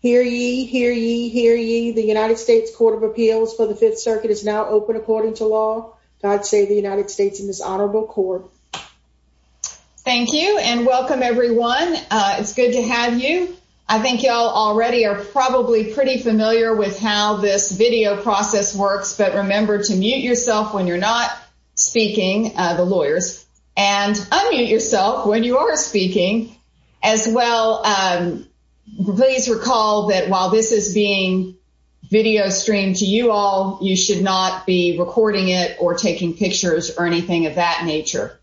Hear ye, hear ye, hear ye. The United States Court of Appeals for the Fifth Circuit is now open according to law. God save the United States and this honorable court. Thank you and welcome everyone. It's good to have you. I think y'all already are probably pretty familiar with how this video process works, but remember to mute yourself when you're not speaking, the lawyers, and recall that while this is being video streamed to you all, you should not be recording it or taking pictures or anything of that nature.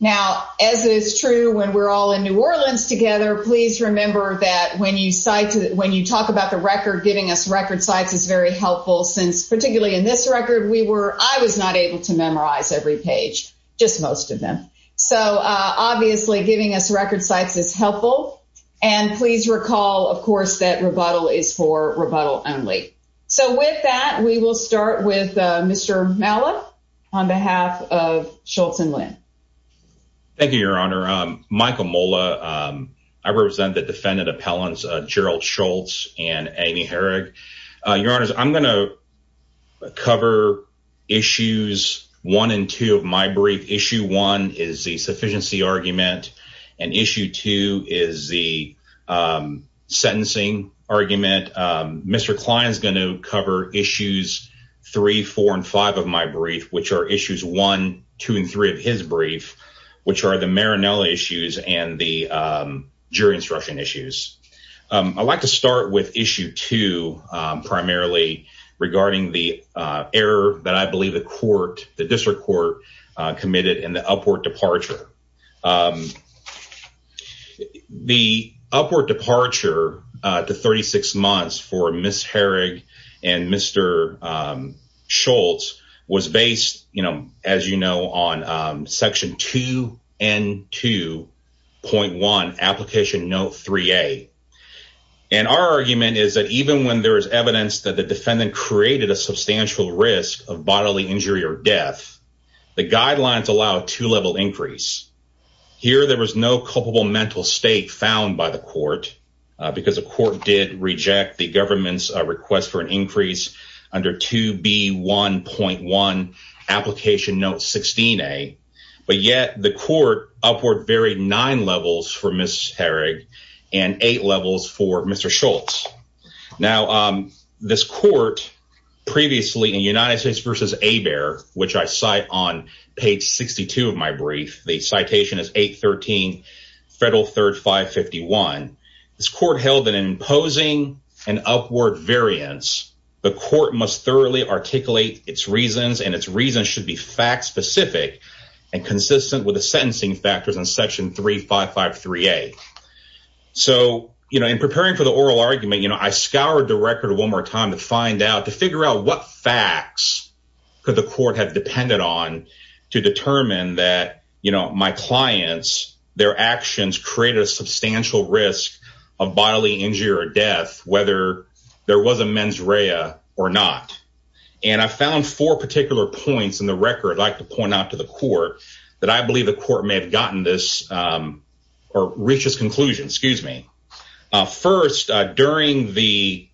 Now as it is true when we're all in New Orleans together, please remember that when you talk about the record, giving us record sites is very helpful since particularly in this record we were, I was not able to memorize every page, just most of them. So obviously giving us record sites is helpful and please recall, of course, that rebuttal is for rebuttal only. So with that, we will start with Mr. Mala on behalf of Schultz and Lynn. Thank you, Your Honor. Michael Mola. I represent the defendant appellants Gerald Schultz and Amy Herrig. Your Honors, I'm going to cover issues one and two of my brief. Issue one is the sentencing argument. Mr. Klein is going to cover issues three, four, and five of my brief, which are issues one, two, and three of his brief, which are the Marinella issues and the jury instruction issues. I'd like to start with issue two, primarily regarding the error that I believe the court, the district court, committed in upward departure. The upward departure to 36 months for Ms. Herrig and Mr. Schultz was based, you know, as you know, on section 2 and 2.1 application note 3a. And our argument is that even when there is evidence that the defendant created a two-level increase, here there was no culpable mental state found by the court because the court did reject the government's request for an increase under 2B1.1 application note 16a. But yet the court upward varied nine levels for Ms. Herrig and eight levels for Mr. Schultz. Now, this court previously in United States v. Hebert, which I cite on page 62 of my brief, the citation is 813 Federal Third 551, this court held that in imposing an upward variance, the court must thoroughly articulate its reasons and its reasons should be fact specific and consistent with the sentencing factors in section 3553a. So, you know, in preparing for the oral argument, you know, I scoured the record one more time to find out, to figure out what facts could the court have depended on to determine that, you know, my clients, their actions created a substantial risk of bodily injury or death, whether there was a mens rea or not. And I found four particular points in the record I'd like to point out to the court that I believe the court may have gotten this or reached this conclusion, excuse me. First, during the,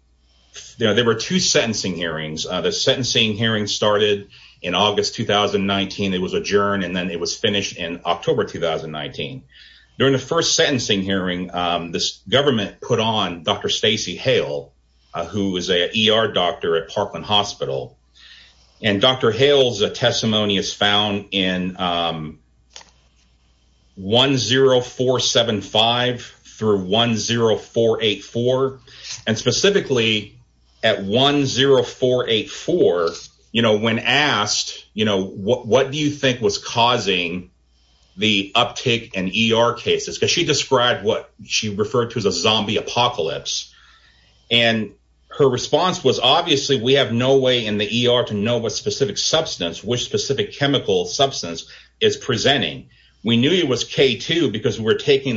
you know, there were two sentencing hearings, the sentencing hearing started in August 2019, it was adjourned, and then it was finished in October 2019. During the first sentencing hearing, this government put on Dr. Stacey Hale, who is a ER doctor at Parkland Hospital. And Dr. Hale's at 10484, you know, when asked, you know, what do you think was causing the uptick in ER cases? Because she described what she referred to as a zombie apocalypse. And her response was, obviously, we have no way in the ER to know what specific substance, which taking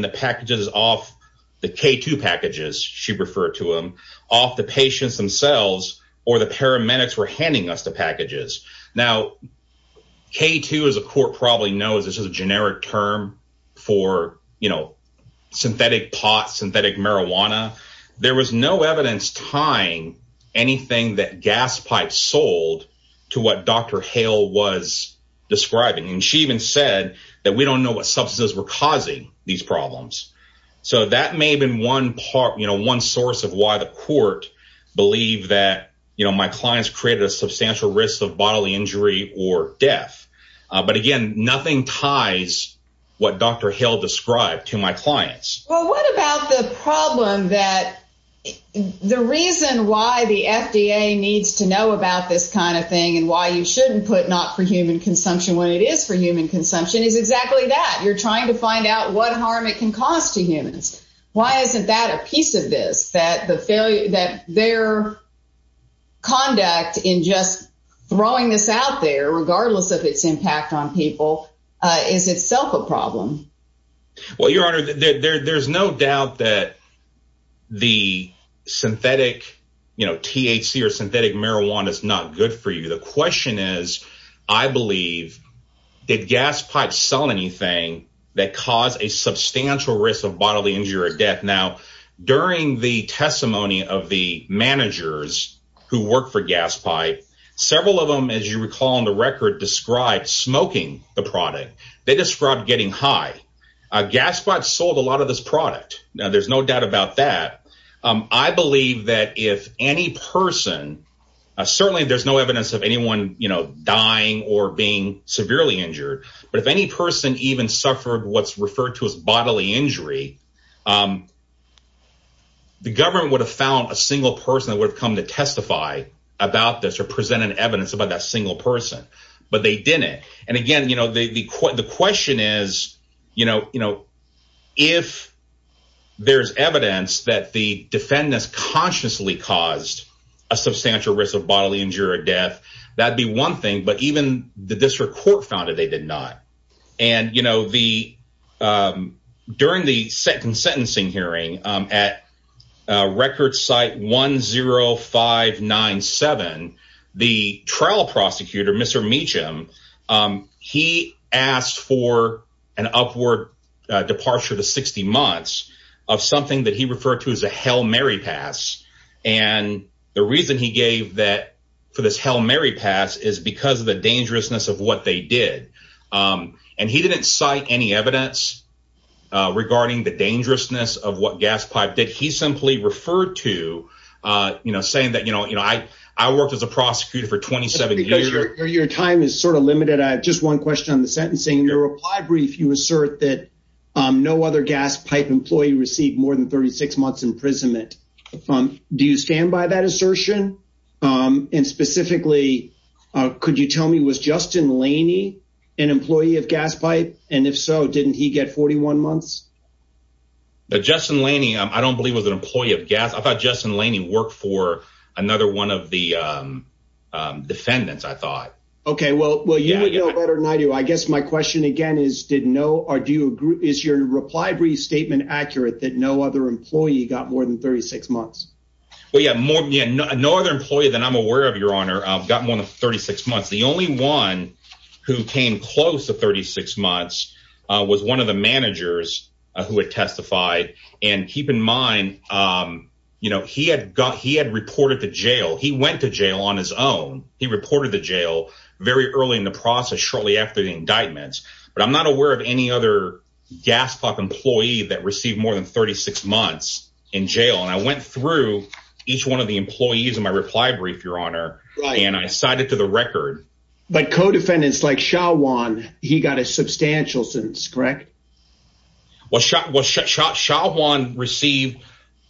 the packages off the K2 packages, she referred to them, off the patients themselves, or the paramedics were handing us the packages. Now, K2, as a court probably knows, this is a generic term for, you know, synthetic pot, synthetic marijuana, there was no evidence tying anything that gas pipes sold to what Dr. Hale was describing. And she even said that we don't know what substances were causing these problems. So that may have been one part, you know, one source of why the court believed that, you know, my clients created a substantial risk of bodily injury or death. But again, nothing ties what Dr. Hale described to my clients. Well, what about the problem that the reason why the FDA needs to know about this kind of thing, and why you shouldn't put not for human consumption, when it is for human consumption, you're trying to find out what harm it can cause to humans? Why isn't that a piece of this, that the failure that their conduct in just throwing this out there, regardless of its impact on people, is itself a problem? Well, Your Honor, there's no doubt that the synthetic, you know, THC or synthetic marijuana is not good for you. The question is, I believe, did gas pipes sell anything that caused a substantial risk of bodily injury or death? Now, during the testimony of the managers who work for gas pipe, several of them, as you recall, on the record, described smoking the product. They described getting high. A gas pipe sold a lot of this product. Now, there's no doubt about that. I believe that if any person, certainly there's no evidence of anyone, you know, dying or being severely injured, but if any person even suffered what's referred to as bodily injury, the government would have found a single person that would have come to testify about this or presented evidence about that single person, but they didn't. And again, you know, the question is, you know, if there's evidence that the defendants consciously caused a substantial risk of bodily injury or death, that'd be one thing, but even the district court found that they did not. And, you know, during the second sentencing hearing at record site 10597, the trial prosecutor, Mr. Meacham, he asked for an upward departure to 60 of something that he referred to as a Hail Mary pass. And the reason he gave that for this Hail Mary pass is because of the dangerousness of what they did. And he didn't cite any evidence regarding the dangerousness of what gas pipe did. He simply referred to, you know, saying that, you know, I worked as a prosecutor for 27 years. Your time is sort of limited. I have just one sentence. In your reply brief, you assert that no other gas pipe employee received more than 36 months imprisonment. Do you stand by that assertion? And specifically, could you tell me, was Justin Laney an employee of gas pipe? And if so, didn't he get 41 months? But Justin Laney, I don't believe was an employee of gas. I thought Justin Laney worked for another one of the defendants, I thought. Okay, well, you would know better than I do. I guess my question again is, is your reply brief statement accurate that no other employee got more than 36 months? Well, yeah, no other employee that I'm aware of, Your Honor, got more than 36 months. The only one who came close to 36 months was one of the managers who had testified. And keep in mind, you know, he had got, he had reported to jail, he went to jail on his own. He reported to jail very early in the process shortly after the indictments. But I'm not aware of any other gas pipe employee that received more than 36 months in jail. And I went through each one of the employees in my reply brief, Your Honor, and I cited to the record. But co-defendants like Xiao Wan, he got a substantial sentence, correct? Well, Xiao Wan received,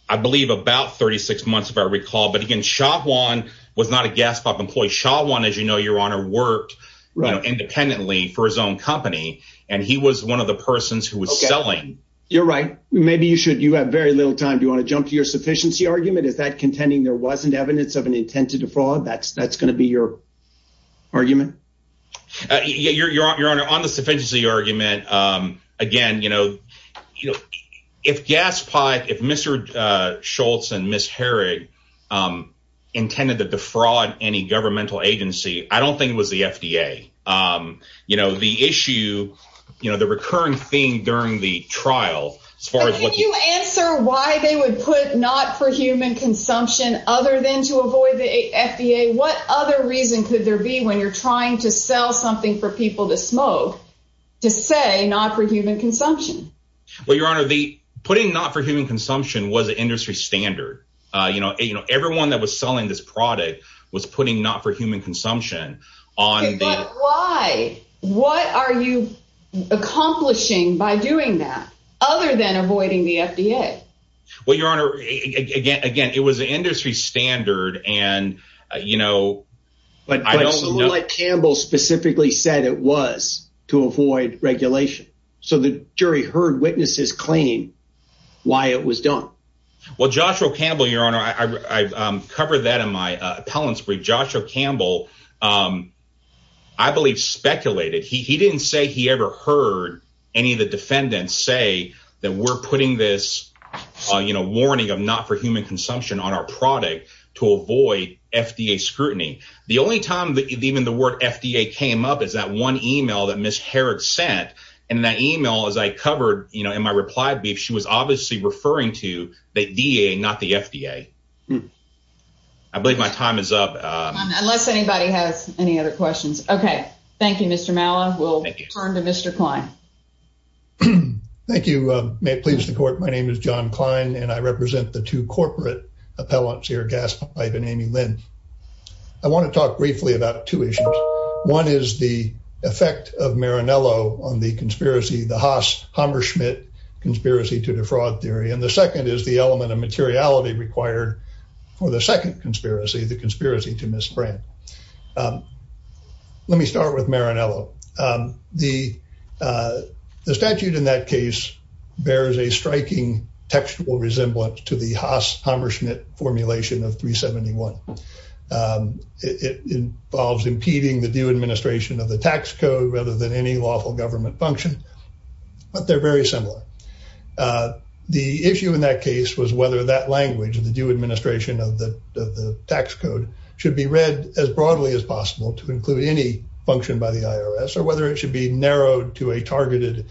I believe, about 36 months, if I recall. But again, Xiao Wan was not a gas pipe employee. Xiao Wan, as you know, Your Honor, worked independently for his own company. And he was one of the persons who was selling. You're right. Maybe you should, you have very little time. Do you want to jump to your sufficiency argument? Is that contending there wasn't evidence of an intent to defraud? That's going to be your argument? Yeah, Your Honor, on the sufficiency argument, again, you know, if gas pipe, if Mr. Schultz and Ms. Herrig intended to defraud any governmental agency, I don't think it was the FDA. You know, the issue, you know, the recurring theme during the trial, as far as what you answer, why they would put not for human consumption, other than to avoid the FDA, what other reason could there be when you're trying to sell something for people to smoke, to say not for human consumption? Well, Your Honor, the putting not for human consumption was an industry standard. You know, you know, everyone that was selling this product was putting not for human consumption on. But why? What are you accomplishing by doing that, other than avoiding the FDA? Well, Your Honor, again, again, it was an industry standard. And, you know, but I don't know what Campbell specifically said it was to avoid regulation. So the jury heard witnesses claim why it was done. Well, Joshua Campbell, Your Honor, I covered that in my appellant's brief. Joshua Campbell, I believe, speculated. He didn't say he ever heard any of the defendants say that we're putting this, you know, warning of not for human consumption on our product to avoid FDA scrutiny. The only time that even the word FDA came up is that one email that Ms. Herod sent. And that email, as I covered, you know, in my reply brief, she was obviously referring to the DA, not the FDA. I believe my time is up. Unless anybody has any other questions. Okay. Thank you, Mr. Mala. We'll turn to Mr. Klein. Thank you. May it please the court. My represent the two corporate appellants here, Gaspard and Amy Lynn. I want to talk briefly about two issues. One is the effect of Marinello on the conspiracy, the Haas-Hammerschmidt conspiracy to defraud theory. And the second is the element of materiality required for the second conspiracy, the conspiracy to misbrand. Let me start with Marinello. The statute in that case bears a striking textual resemblance to the Haas-Hammerschmidt formulation of 371. It involves impeding the due administration of the tax code rather than any lawful government function, but they're very similar. The issue in that case was whether that language of the due administration of the tax code should be read as broadly as possible to include any function by the IRS or whether it should be narrowed to a targeted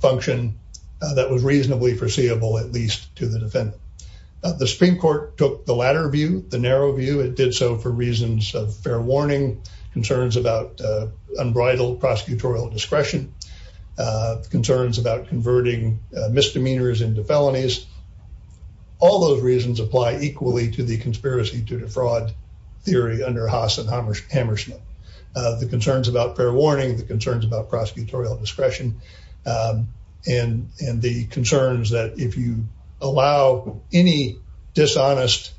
function that was reasonably foreseeable, at least to the defendant. The Supreme Court took the latter view, the narrow view. It did so for reasons of fair warning, concerns about unbridled prosecutorial discretion, concerns about converting misdemeanors into felonies. All those reasons apply equally to the conspiracy to defraud theory under Haas and Hammerschmidt. The concerns about fair warning, the concerns about prosecutorial discretion, and the concerns that if you allow any dishonest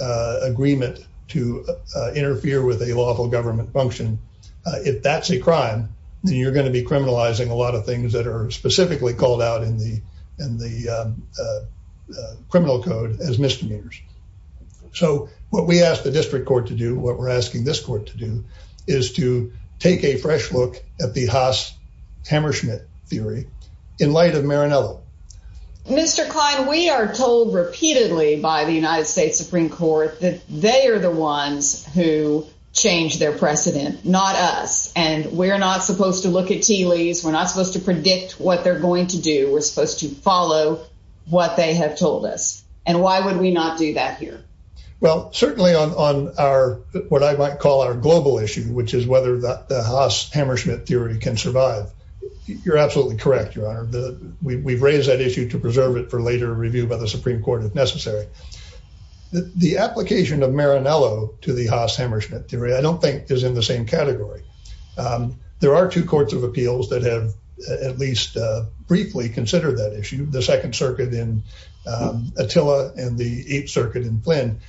agreement to interfere with a lawful government function, if that's a crime, then you're going to be criminalizing a lot of things that are criminal code as misdemeanors. So what we asked the district court to do, what we're asking this court to do, is to take a fresh look at the Haas-Hammerschmidt theory in light of Marinello. Mr. Kline, we are told repeatedly by the United States Supreme Court that they are the ones who changed their precedent, not us. And we're not supposed to look at TLEs. We're not supposed to predict what they're going to do. We're supposed to follow what they have told us. And why would we not do that here? Well, certainly on what I might call our global issue, which is whether the Haas-Hammerschmidt theory can survive. You're absolutely correct, Your Honor. We've raised that issue to preserve it for later review by the Supreme Court if necessary. The application of Marinello to the Haas-Hammerschmidt theory I don't think is in the same category. There are two courts of appeals that have at least briefly considered that issue, the Second Circuit in Attila and the Eighth Circuit in Flynn.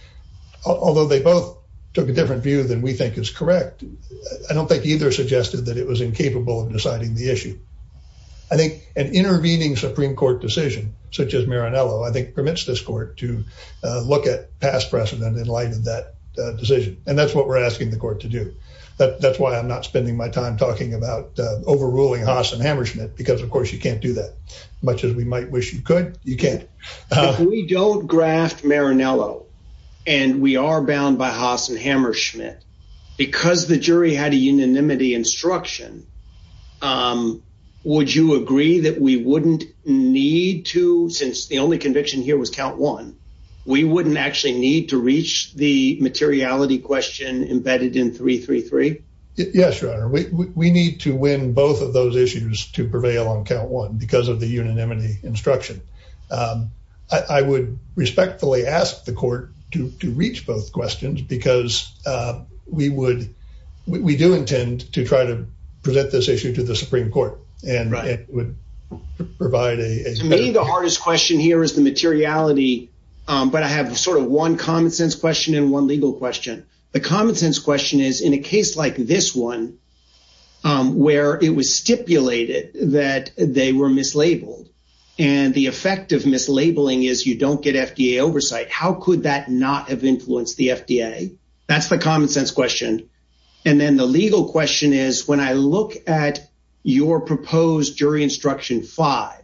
Although they both took a different view than we think is correct, I don't think either suggested that it was incapable of deciding the issue. I think an intervening Supreme Court decision, such as Marinello, I think permits this court to look at past precedent in light of that decision. And that's what we're asking the court to do. That's why I'm not spending my time talking about overruling Haas and Hammerschmidt, because of course you can't do that. Much as we might wish you could, you can't. If we don't graft Marinello and we are bound by Haas and Hammerschmidt, because the jury had a unanimity instruction, would you agree that we wouldn't need to, since the only conviction here was count one, we wouldn't actually need to reach the materiality question embedded in 333? Yes, Your Honor. We need to win both of those issues to prevail on count one, because of the unanimity instruction. I would respectfully ask the court to reach both questions, because we do intend to try to present this issue to the Supreme Court. And it would provide a- Maybe the hardest question here is the materiality, but I have sort of one common sense question and one legal question. The common sense question is, in a case like this one, where it was stipulated that they were mislabeled, and the effect of mislabeling is you don't get FDA oversight. How could that not have influenced the FDA? That's the common sense question. And then the legal question is, when I look at your proposed jury instruction five,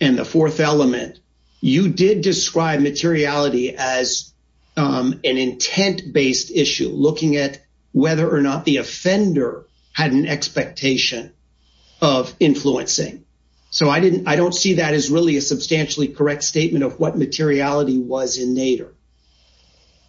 and the fourth element, you did describe materiality as an intent-based issue, looking at whether or not the offender had an expectation of influencing. So I don't see that as really a substantially correct statement of what materiality was in Nader.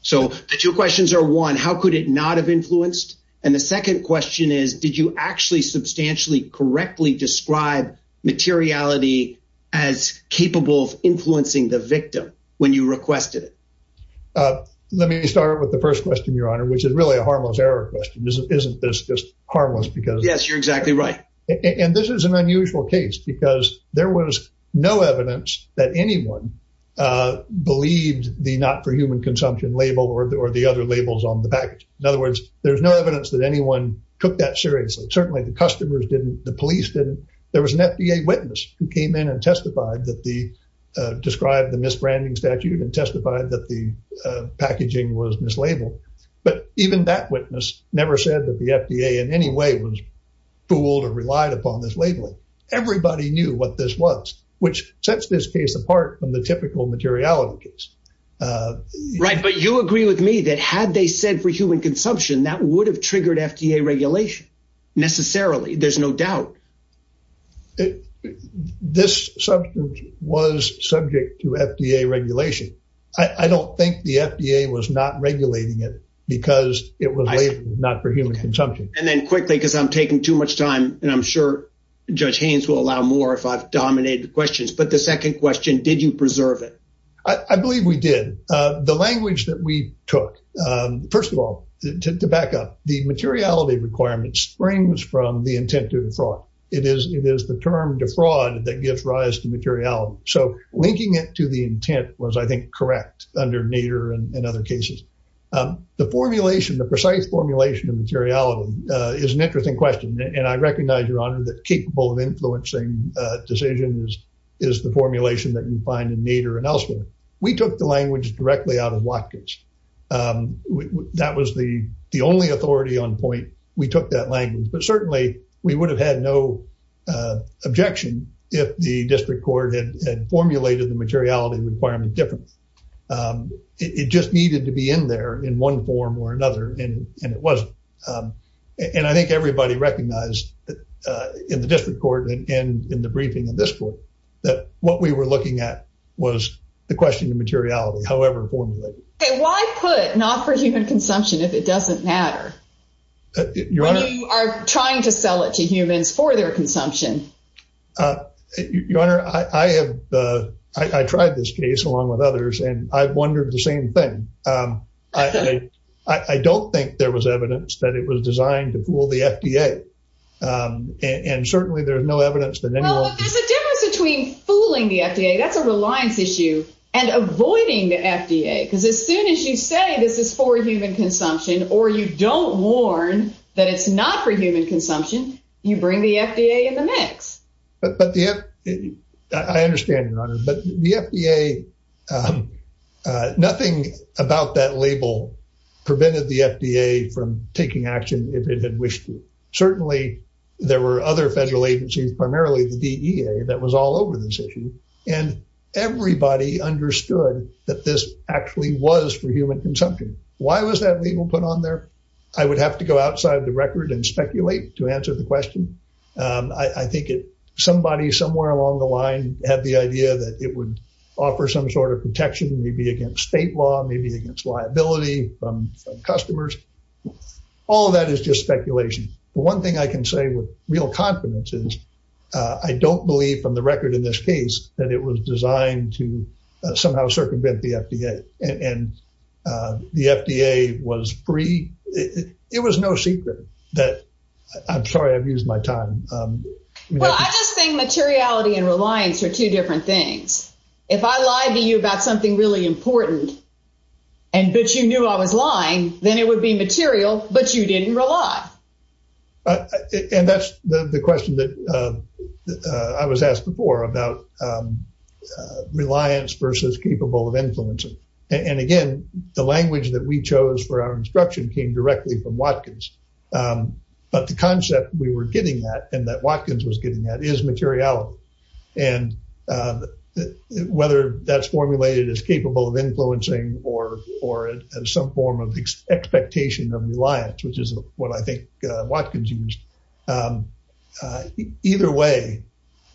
So the two questions are, one, how could it not have influenced? And the second question is, did you actually substantially correctly describe materiality as capable of influencing the victim when you requested it? Let me start with the first question, Your Honor, which is really a harmless error question. Isn't this just harmless because- Yes, you're exactly right. And this is an unusual case because there was no evidence that anyone believed the not for human consumption label or the other labels on the Certainly, the customers didn't. The police didn't. There was an FDA witness who came in and testified that they described the misbranding statute and testified that the packaging was mislabeled. But even that witness never said that the FDA in any way was fooled or relied upon this labeling. Everybody knew what this was, which sets this case apart from the typical materiality case. Right, but you agree with me that had they said for human consumption, that would have triggered FDA regulation necessarily. There's no doubt. This substance was subject to FDA regulation. I don't think the FDA was not regulating it because it was labeled not for human consumption. And then quickly, because I'm taking too much time and I'm sure Judge Haynes will allow more if I've dominated the questions. But the second question, did you preserve it? I believe we did. The language that we took, first of all, to back up, the materiality requirement springs from the intent to defraud. It is the term defraud that gives rise to materiality. So linking it to the intent was, I think, correct under Nader and other cases. The formulation, the precise formulation of materiality is an interesting question. And I recognize, Your Honor, that capable of influencing decisions is the formulation that you find in Nader and elsewhere. We took the language directly out of Watkins. That was the only authority on point. We took that language. But certainly, we would have had no objection if the district court had formulated the materiality requirement differently. It just needed to be in there in one form or another, and it wasn't. And I think everybody recognized in the district court and in the briefing of this court, that what we were looking at was the question of materiality, however formulated. Okay, why put not for human consumption if it doesn't matter? You are trying to sell it to humans for their consumption. Your Honor, I have, I tried this case along with others, and I've wondered the same thing. I don't think there was evidence that it was designed to fool the FDA. And certainly, there's no evidence that anyone- There's a difference between fooling the FDA, that's a reliance issue, and avoiding the FDA. Because as soon as you say this is for human consumption, or you don't warn that it's not for human consumption, you bring the FDA in the mix. I understand, Your Honor. But the FDA, nothing about that label prevented the FDA from taking action if it had wished to. Certainly, there were other federal agencies, primarily the DEA, that was all over this issue. And everybody understood that this actually was for human consumption. Why was that label put on there? I would have to go outside the record and speculate to answer the question. I think somebody somewhere along the line had the idea that it would offer some sort of protection, maybe against state law, maybe against liability from customers. All of that is just speculation. The one thing I can say with real confidence is I don't believe from the record in this case that it was designed to somehow circumvent the FDA. And the FDA was free. It was no secret that- I'm sorry I've used my time. Well, I just think materiality and reliance are two different things. If I lie to you about something really important, and but you knew I was lying, then it would be material, but you didn't rely. And that's the question that I was asked before about reliance versus capable of influencing. And again, the language that we chose for our instruction came directly from Watkins. But the concept we were getting at and that Watkins was getting at is materiality. And whether that's formulated as capable of influencing or some form of expectation of reliance, which is what I think Watkins used, either way,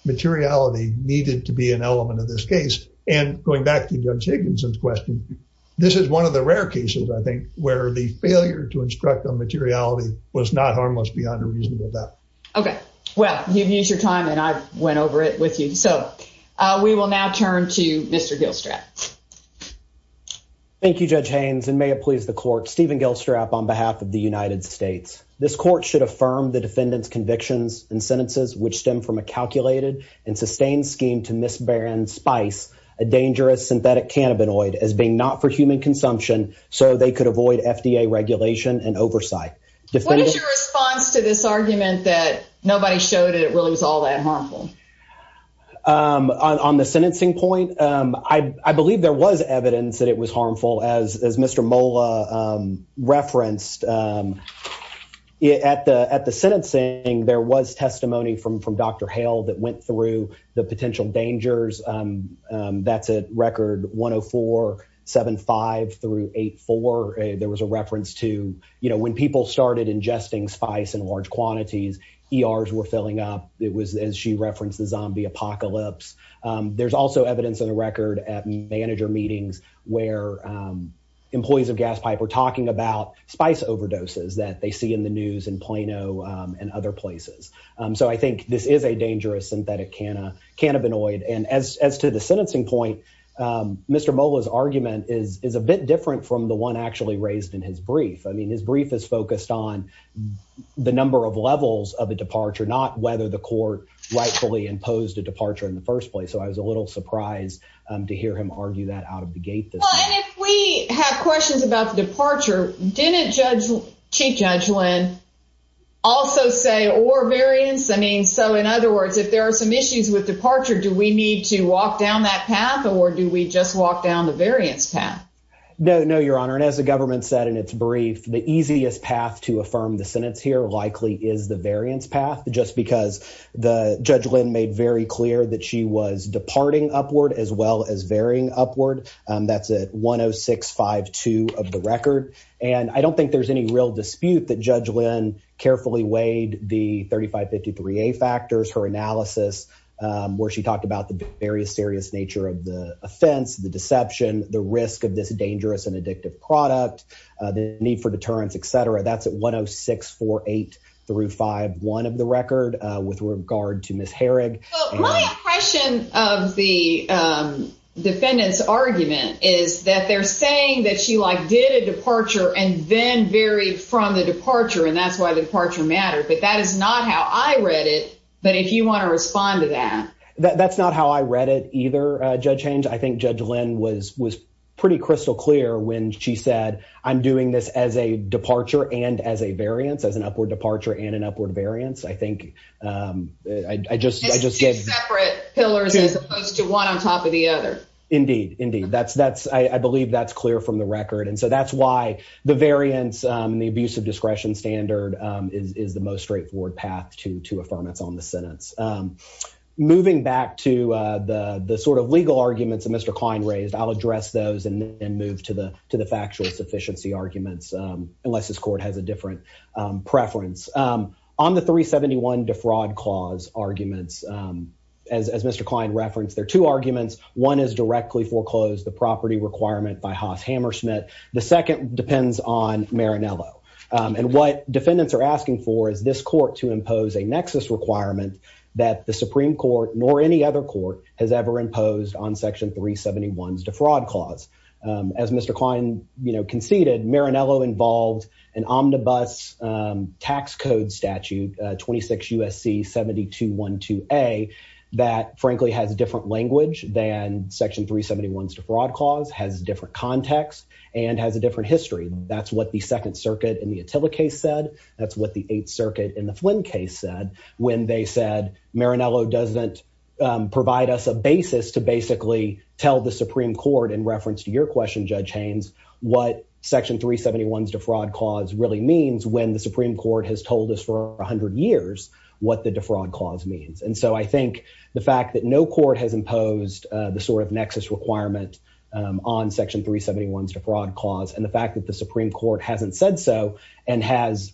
materiality needed to be an element of this case. And going back to Judge Higginson's question, this is one of the rare cases, I think, where the failure to instruct on materiality was not harmless beyond a reasonable doubt. Okay. Well, you've used your time and I went over it with you. So, we will now turn to Mr. Gilstrap. Thank you, Judge Haynes, and may it please the court, Stephen Gilstrap on behalf of the United States. This court should affirm the defendant's convictions and sentences which stem from a calculated and sustained scheme to misbearing spice, a dangerous synthetic cannabinoid as being not for human consumption so they could avoid FDA regulation and oversight. What is your response to this argument that nobody showed it, it really was all that harmful? On the sentencing point, I believe there was evidence that it was harmful, as Mr. Mola referenced. At the sentencing, there was testimony from Dr. Hale that went through the potential dangers. That's at record 104, 75 through 84. There was a reference to, when people started ingesting spice in large quantities, ERs were filling up. It was, as she referenced, the zombie apocalypse. There's also evidence in the record at manager meetings where employees of Gaspipe were talking about spice overdoses that they see in the news in Plano and other places. So, I think this is a dangerous synthetic cannabinoid. And as to the sentencing point, Mr. Mola's argument is a bit different from the one actually raised in his brief. I mean, his brief is focused on the number of levels of a departure, not whether the court rightfully imposed a departure in the first place. So, I was a little surprised to hear him argue that out of the gate this time. Well, and if we have questions about the departure, didn't Chief Judge Lynn also say or variance? I mean, so in other words, if there are some issues with departure, do we need to walk down that path or do we just walk down the variance path? No, no, Your Honor. And as the government said in its brief, the easiest path to affirm the sentence here likely is the variance path, just because Judge Lynn made very clear that she was departing upward as well as varying upward. That's at 10652 of the record. And I don't think there's any real dispute that Judge Lynn carefully weighed the 3553A factors, her analysis, where she talked about the very serious nature of the offense, the deception, the risk of this dangerous and addictive product, the need for deterrence, etc. That's at 10648 through 5-1 of the record with regard to Ms. Herrig. Well, my impression of the defendant's argument is that they're saying that she like did a departure and then varied from the departure, and that's why the departure mattered. But that is not how I read it. But if you want to respond to that. That's not how I read it either, Judge Haynes. I think Judge Lynn was pretty crystal clear when she said, I'm doing this as a departure and as a variance, as an upward departure and an upward variance. I think I just gave separate pillars as opposed to one on top of the other. Indeed, indeed. I believe that's clear from the record. And so that's why the variance, the abuse of discretion standard is the most straightforward path to affirmance on the moving back to the sort of legal arguments that Mr. Klein raised. I'll address those and move to the to the factual sufficiency arguments unless this court has a different preference on the 371 defraud clause arguments. As Mr. Klein referenced, there are two arguments. One is directly foreclosed the property requirement by Haas Hammersmith. The second depends on Marinello. And what defendants are asking for is this court to impose a nexus requirement that the Supreme Court, nor any other court, has ever imposed on Section 371's defraud clause. As Mr. Klein conceded, Marinello involved an omnibus tax code statute, 26 U.S.C. 7212A, that frankly has a different language than Section 371's defraud clause, has different context, and has a different history. That's what the Second Circuit in the Attila case said. That's what the Eighth Circuit in the Flynn case said when they said Marinello doesn't provide us a basis to basically tell the Supreme Court, in reference to your question, Judge Haynes, what Section 371's defraud clause really means when the Supreme Court has told us for 100 years what the defraud clause means. And so I think the fact that no court has imposed the sort of nexus requirement on Section 371's defraud clause and the fact that the Supreme Court hasn't said so and has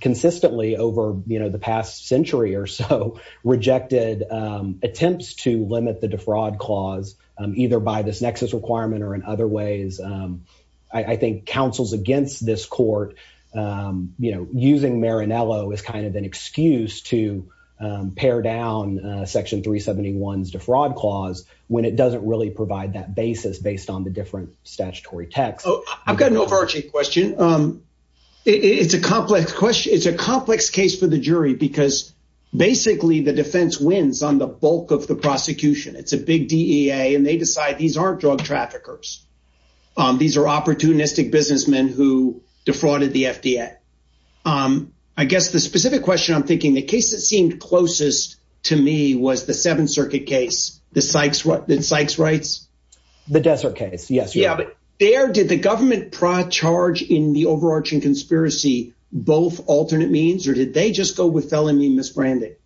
consistently over the past century or so rejected attempts to limit the defraud clause, either by this nexus requirement or in other ways, I think counsels against this court using Marinello as kind of an excuse to pare down Section 371's defraud clause when it doesn't really provide that basis based on the different statutory texts. I've got an overarching question. It's a complex question. It's a complex case for the jury because basically the defense wins on the bulk of the prosecution. It's a big DEA, and they decide these aren't drug traffickers. These are opportunistic businessmen who defrauded the FDA. I guess the specific question I'm thinking, the case that seemed closest to me was the Seventh Circuit case, the Sykes rights. The Desert case, yes. Did the government charge in the overarching conspiracy both alternate means, or did they just go with felony misbranding?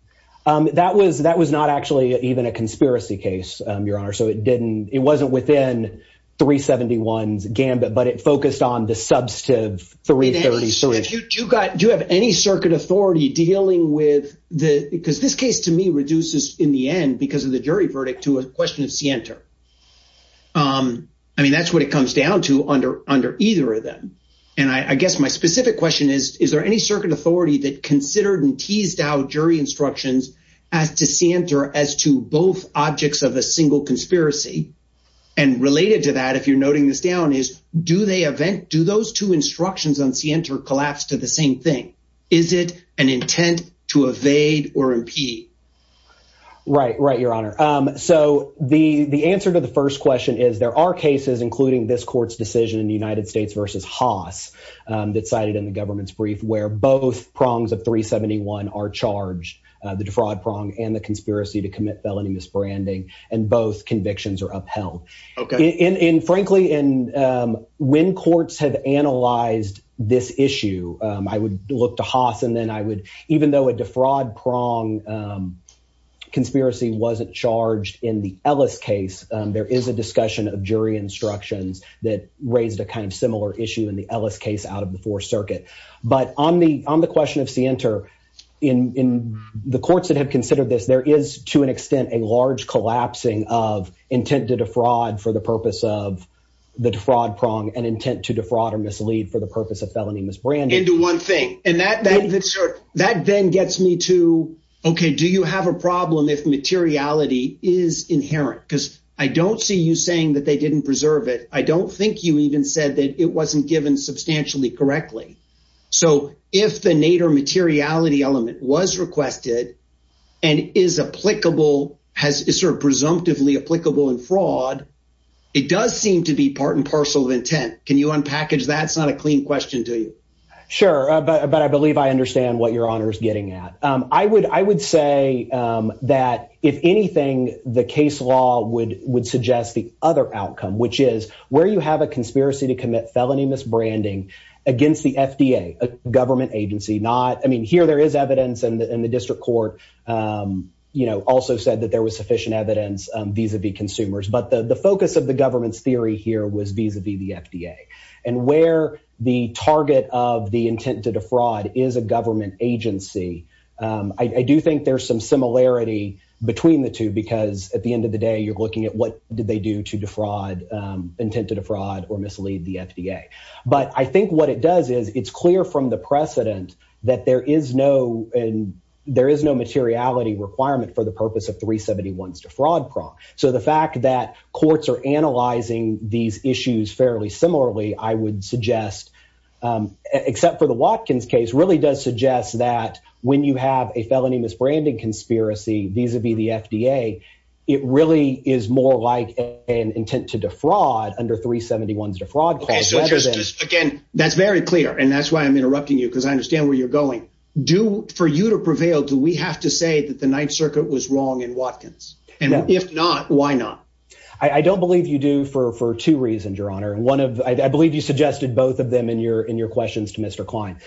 That was not actually even a conspiracy case, Your Honor, so it wasn't within 371's gambit, but it focused on the substantive 333. Do you have any circuit authority dealing with the, because this case to me reduces in the end because of the jury verdict to a question of scienter. That's what it comes down to under either of them. I guess my specific question is, is there any circuit authority that considered and teased out jury instructions as to scienter as to both objects of a single conspiracy? Related to that, if you're noting this down, is do those two instructions on scienter collapse to the same thing? Is it an intent to evade or impede? Right, right, Your Honor. The answer to the first question is there are cases, including this court's decision in the United States versus Haas that cited in the government's brief, where both prongs of 371 are charged, the defraud prong and the conspiracy to commit felony misbranding, and both convictions are upheld. Frankly, when courts have analyzed this issue, I would look to Haas, and then I would, even though a defraud prong conspiracy wasn't charged in the Ellis case, there is a discussion of jury instructions that raised a kind of similar issue in the Ellis case out of the Fourth Circuit. But on the question of scienter, in the courts that have considered this, there is to an extent a large collapsing of intent to defraud for the purpose of the defraud prong and intent to defraud or mislead for the purpose of felony misbranding. And to one thing, and that then gets me to, okay, do you have a problem if materiality is inherent? Because I don't see you saying that they didn't preserve it. I don't think you even said that it wasn't given substantially correctly. So if the Nader materiality element was requested and is applicable, is sort of presumptively applicable in fraud, it does seem to be part and parcel of intent. Can you unpackage that? It's not a clean question, do you? Sure, but I believe I understand what your honor is getting at. I would say that if anything, the case law would suggest the other outcome, which is where you have a conspiracy to commit felony misbranding against the FDA, a government agency, not, I mean, here there is evidence, and the district court also said that there was sufficient evidence. Vis-a-vis consumers, but the focus of the government's theory here was vis-a-vis the FDA and where the target of the intent to defraud is a government agency. I do think there's some similarity between the two because at the end of the day, you're looking at what did they do to intent to defraud or mislead the FDA. But I think what it does is it's clear from the precedent that there is no and there is no materiality requirement for the purpose of 371's defraud prompt. So the fact that courts are analyzing these issues fairly similarly, I would suggest, except for the Watkins case, really does suggest that when you have a felony misbranding conspiracy vis-a-vis the FDA, it really is more like an intent to defraud under 371's defraud. Again, that's very clear, and that's why I'm interrupting you because I understand where you're going. Do, for you to prevail, do we have to say that the Ninth Circuit was wrong in Watkins? And if not, why not? I don't believe you do for two reasons, Your Honor. One of, I believe you suggested both of them in your questions to Mr. Klein.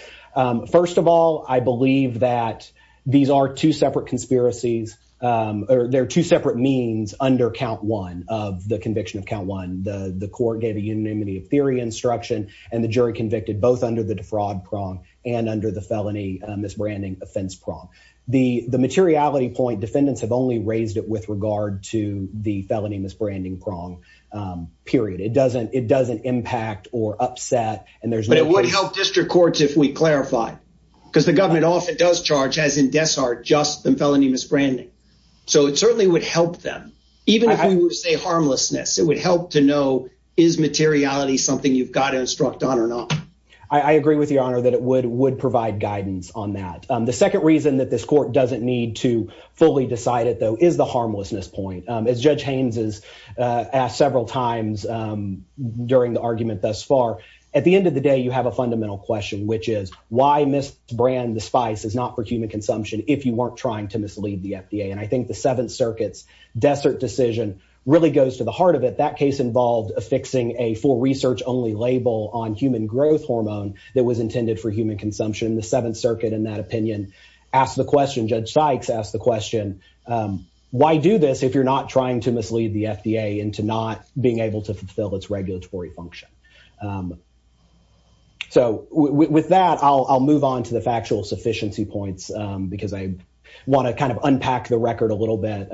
First of all, I believe that these are two separate conspiracies, or they're two separate means under count one of the conviction of count one. The court gave a unanimity of theory instruction, and the jury convicted both under the defraud prong and under the felony misbranding offense prong. The materiality point, defendants have only raised it with regard to the felony misbranding prong, period. It doesn't impact or upset, and there's no- But it would help district courts if we clarify, because the government often does charge, as in Dessart, just the felony misbranding. So it certainly would help them. Even if we were to say harmlessness, it would help to know is materiality something you've got to instruct on or not. I agree with Your Honor that it would provide guidance on that. The second reason that this court doesn't need to fully decide it, though, is the harmlessness point. As Judge Haynes has asked several times during the argument thus far, at the end of the day, you have a fundamental question, which is why misbrand the spice is not for human consumption if you weren't trying to mislead the FDA. And I think the Seventh Circuit's Dessart decision really goes to the heart of it. That case involved affixing a full research-only label on human growth hormone that was intended for human consumption. The Seventh Circuit, in that opinion, asked the question, Judge Sykes asked the question, why do this if you're not trying to mislead the FDA into not being able to fulfill its regulatory function? So with that, I'll move on to the factual sufficiency points because I want to kind of unpack the record a little bit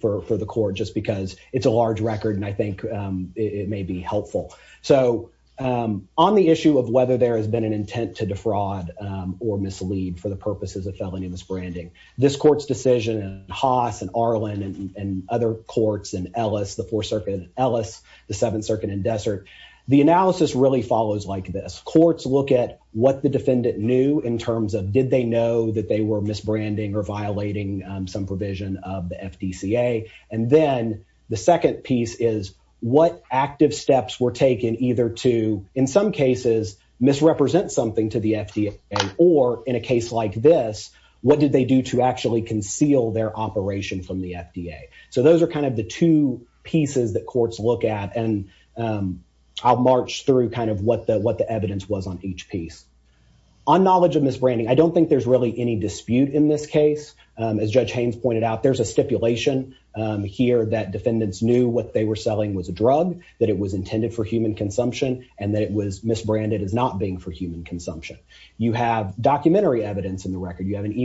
for the court just because it's a large record and I think it may be helpful. So on the issue of whether there has been an intent to defraud or mislead for the purposes of felony misbranding, this court's decision and Haas and Arlen and other courts and Ellis, the Fourth Circuit and Ellis, the Seventh Circuit and Dessart, the analysis really follows like this. Courts look at what the defendant knew in terms of did they know that they were misbranding or violating some provision of the FDCA. And then the second piece is what active steps were taken either to, in some cases, misrepresent something to the FDA or in a case like this, what did they do to actually conceal their operation from the FDA? So those are kind of the two pieces that courts look at and I'll march through kind of what the evidence was on each piece. On knowledge of misbranding, I don't think there's really any dispute in this case. As Judge Haynes pointed out, there's a stipulation here that defendants knew what they were selling was a drug, that it was intended for human consumption and that it was misbranded as not being for human consumption. You have documentary evidence in the record. You have another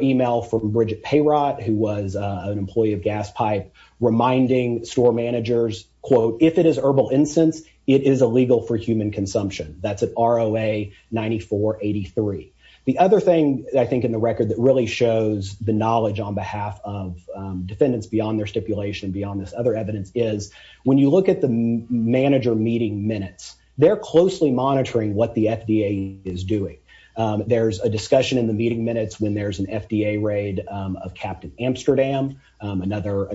email from Bridget Payrott who was an employee of Gas Pipe reminding store managers, quote, if it is herbal incense, it is illegal for human consumption. That's an ROA 9483. The other thing I think in the record that really shows the knowledge on behalf of defendants beyond their stipulation, beyond this other evidence, is when you look at the manager meeting minutes, they're closely monitoring what the FDA is doing. There's a discussion in the meeting minutes when there's an FDA raid of Captain Amsterdam, another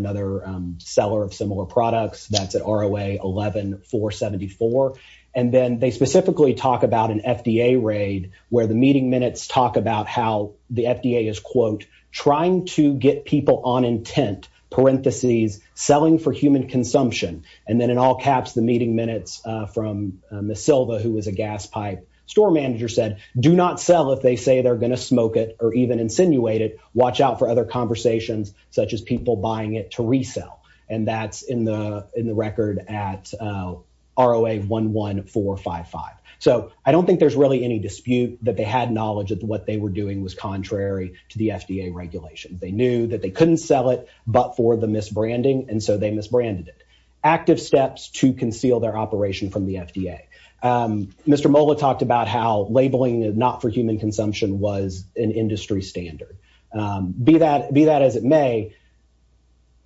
seller of similar products. That's an ROA 11474. And then they specifically talk about an FDA raid where the meeting minutes talk about how the FDA is, quote, trying to get people on intent, parentheses, selling for human consumption. And then in all caps, the meeting minutes from Ms. Silva who was a Gas Pipe store manager said, do not sell if they say they're going to smoke it or even insinuate it. Watch out for other conversations such as people buying it to they had knowledge that what they were doing was contrary to the FDA regulations. They knew that they couldn't sell it but for the misbranding, and so they misbranded it. Active steps to conceal their operation from the FDA. Mr. Mola talked about how labeling not for human consumption was an industry standard. Be that as it may,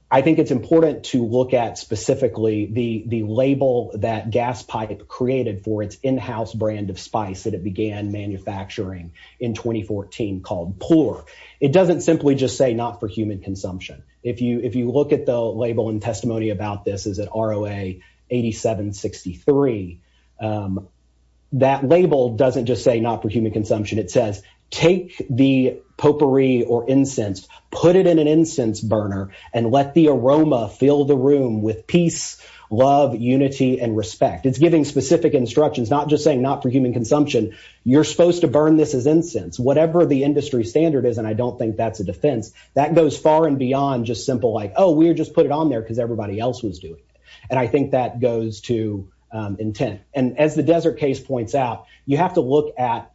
I think it's important to look at specifically the label that Gas Pipe created for its in-house brand of spice that it began manufacturing in 2014 called Pour. It doesn't simply just say not for human consumption. If you look at the label and testimony about this is at ROA 8763, that label doesn't just say not for human consumption. It says take the potpourri or incense, put it in an incense burner and let the aroma fill the room with peace, love, unity, and respect. It's giving specific instructions, not just saying not for human consumption. You're supposed to burn this as incense. Whatever the industry standard is, and I don't think that's a defense, that goes far and beyond just simple like, oh, we just put it on there because everybody else was doing it. And I think that goes to intent. And as the Desert case points out, you have to look at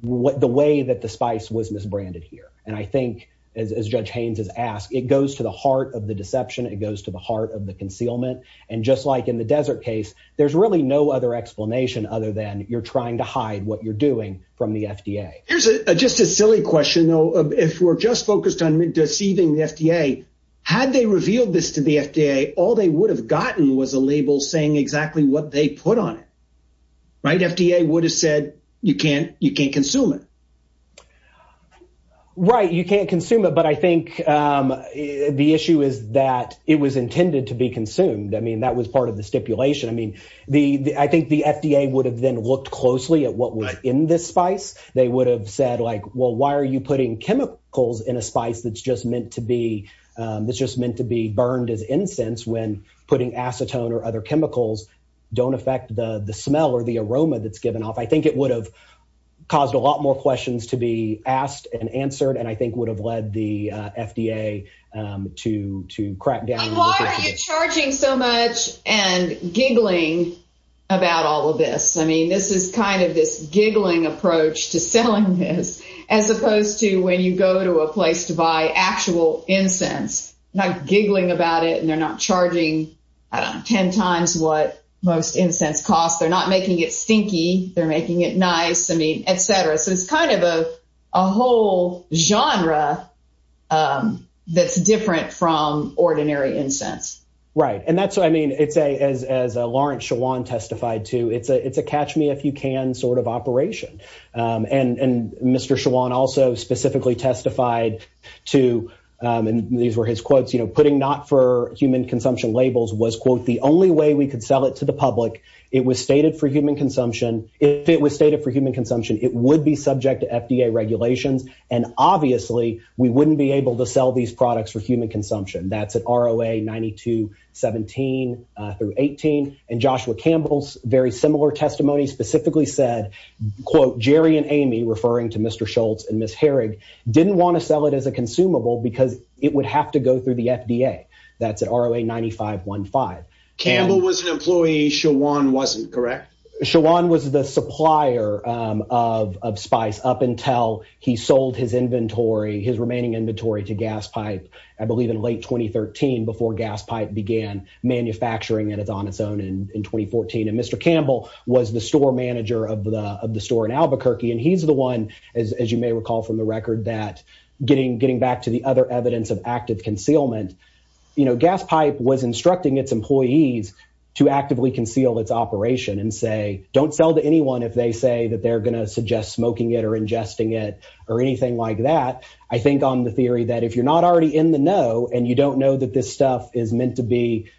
what the way that the spice was misbranded here. And I think as Judge Haynes has asked, it goes to the heart of the deception. It goes to the heart of the concealment. And just like in the Desert case, there's really no other explanation other than you're trying to hide what you're doing from the FDA. Here's just a silly question, though. If we're just focused on deceiving the FDA, had they revealed this to the FDA, all they would have gotten was a label saying exactly what they put on it, right? FDA would have said you can't consume it. Right. You can't consume it. But I think the issue is that it was intended to be consumed. I mean, that was part of the stipulation. I mean, I think the FDA would have then looked closely at what was in this spice. They would have said, like, well, why are you putting chemicals in a spice that's just meant to be burned as incense when putting acetone or other chemicals don't affect the smell or the aroma that's given off? I think it would have caused a lot more questions to be asked and answered and I think would have led the FDA to crack down. And why are you charging so much and giggling about all of this? I mean, this is kind of this giggling approach to selling this as opposed to when you go to a place to buy actual incense, not giggling about it. And they're not charging, I don't know, 10 times what most incense costs. They're not making it stinky. They're making it nice. I mean, et cetera. So it's kind of a whole genre that's different from ordinary incense. Right. And that's what I mean, it's a, as Lawrence Schwan testified to, it's a catch me if you can sort of operation. And Mr. Schwan also specifically testified to, and these were his quotes, you know, putting not for human consumption labels was, quote, the only way we could sell it to the public. It was stated for human consumption. If it was stated for human consumption, it would be subject to FDA regulations. And obviously we wouldn't be able to sell these products for human consumption. That's at ROA 92.17 through 18. And Joshua Campbell's very similar testimony specifically said, quote, Jerry and Amy referring to Mr. Schultz and Ms. Herrig didn't want to sell it as a consumable because it would have to go through the FDA. That's at ROA 95.15. Campbell was an employee, Schwan wasn't, correct? Schwan was the supplier of Spice up until he sold his inventory, his remaining inventory, to GasPipe, I believe in late 2013, before GasPipe began manufacturing and it's on its own in 2014. And Mr. Campbell was the store manager of the store in Albuquerque. And he's the one, as you may recall from the record, that getting back to the other evidence of active concealment, GasPipe was instructing its employees to actively conceal its operation and say, don't sell to anyone if they say that they're going to suggest smoking it or ingesting it or anything like that. I think on the theory that if you're not already in the know, and you don't know that this stuff is meant to be,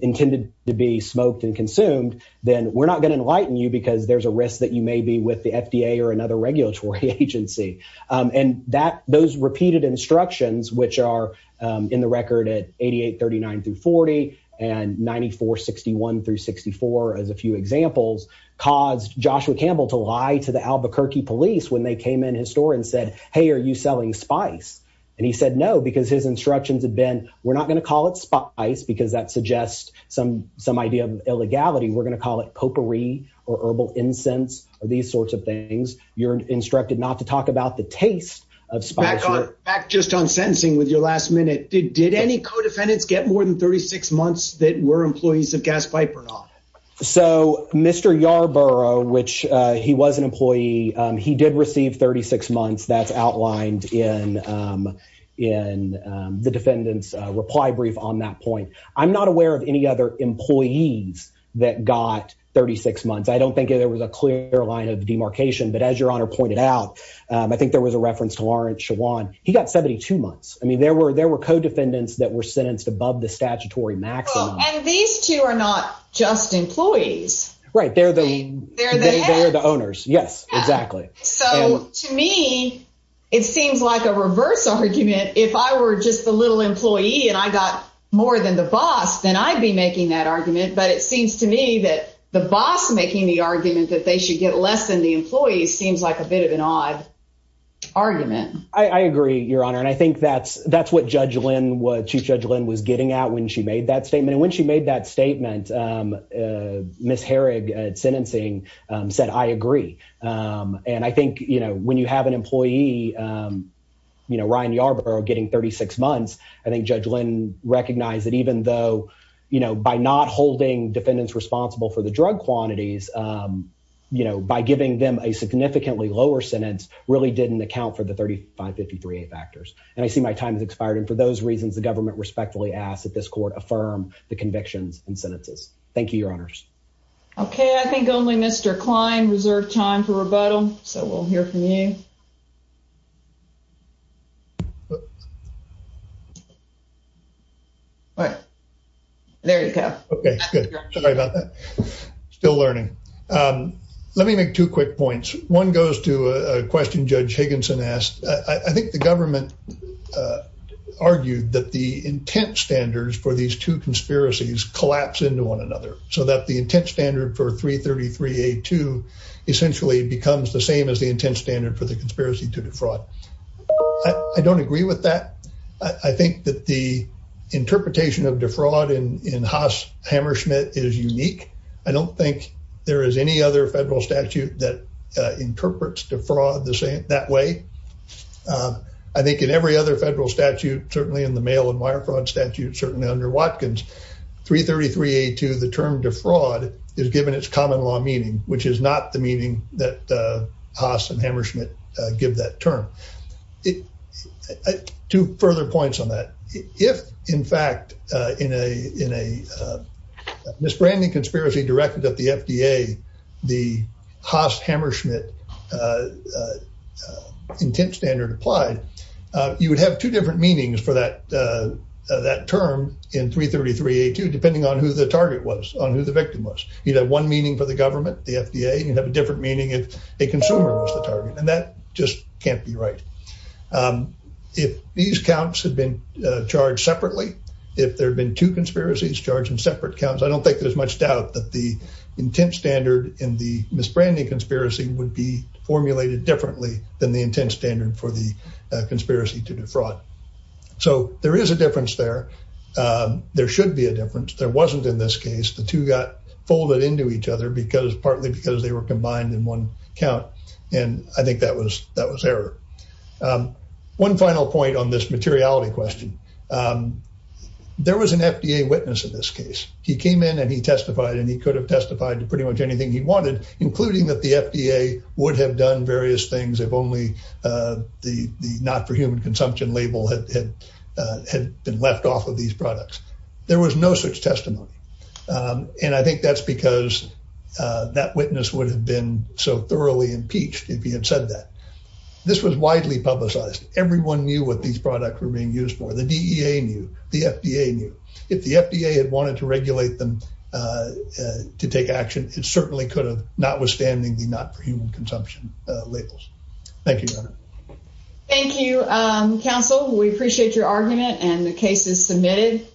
intended to be smoked and consumed, then we're not going to enlighten you because there's a risk that you may be with the FDA or another regulatory agency. And those repeated instructions, which are in the record at 88.39 through 40 and 94.61 through 64, as a few examples, caused Joshua Campbell to lie to the Albuquerque police when they came in his store and said, hey, are you selling Spice? And he said, no, because his instructions had been, we're not going to call it Spice because that suggests some idea of illegality. We're going to call it potpourri or herbal incense or these sorts of things. You're instructed not to talk about the taste of Spice. Back just on sentencing with your last minute, did any co-defendants get more than 36 months that were employees of GasPipe or not? So Mr. Yarborough, which he was an employee, he did receive 36 months. That's outlined in the defendant's reply brief on that point. I'm not aware of any other employees that got 36 months. I don't think there was a clear line of demarcation, but as your honor pointed out, I think there was a reference to Lawrence Shawan. He got 72 months. I mean, there were co-defendants that were sentenced above the statutory maximum. And these two are not just employees. Right. They're the owners. Yes, exactly. So to me, it seems like a reverse argument. If I were just the little employee and I got more than the boss, then I'd be making that argument. But it seems to me that the boss making the argument that they should get less than the employees seems like a bit of an odd argument. I agree, your honor. And I think that's what Judge Lynn was getting out when she made that statement. And when she made that statement, Ms. Herrig at sentencing said, I agree. And I recognize that even though by not holding defendants responsible for the drug quantities, by giving them a significantly lower sentence really didn't account for the 3553A factors. And I see my time has expired. And for those reasons, the government respectfully asked that this court affirm the convictions and sentences. Thank you, your honors. Okay. I think only Mr. Klein reserved time for rebuttal. So we'll hear from you. All right. There you go. Okay, good. Sorry about that. Still learning. Let me make two quick points. One goes to a question Judge Higginson asked. I think the government argued that the intent standards for these two conspiracies collapse into one another so that the intent standard for 333A2 essentially becomes the same as the intent standard for the 333A2. The interpretation of defraud in Haas-Hammerschmidt is unique. I don't think there is any other federal statute that interprets defraud that way. I think in every other federal statute, certainly in the mail and wire fraud statute, certainly under Watkins, 333A2, the term defraud is given its common law meaning, which is not the meaning that Haas and Hammerschmidt give that term. Two further points on that. If, in fact, in a misbranding conspiracy directed at the FDA, the Haas-Hammerschmidt intent standard applied, you would have two different meanings for that term in 333A2 depending on who the target was, on who the victim was. You'd have one meaning for the government, the FDA, and you'd have a different meaning if a consumer was the target. That just can't be right. If these counts had been charged separately, if there had been two conspiracies charged in separate counts, I don't think there's much doubt that the intent standard in the misbranding conspiracy would be formulated differently than the intent standard for the conspiracy to defraud. There is a difference there. There should be a difference. There wasn't in this case. The two got folded into each other partly because they were combined in one count. I think that was error. One final point on this materiality question. There was an FDA witness in this case. He came in and he testified and he could have testified to pretty much anything he wanted, including that the FDA would have done various things if only the not for human consumption label had been left off of these products. There was no such so thoroughly impeached if he had said that. This was widely publicized. Everyone knew what these products were being used for. The DEA knew. The FDA knew. If the FDA had wanted to regulate them to take action, it certainly could have, notwithstanding the not for human consumption labels. Thank you. Thank you, counsel. We appreciate your argument and the case is submitted.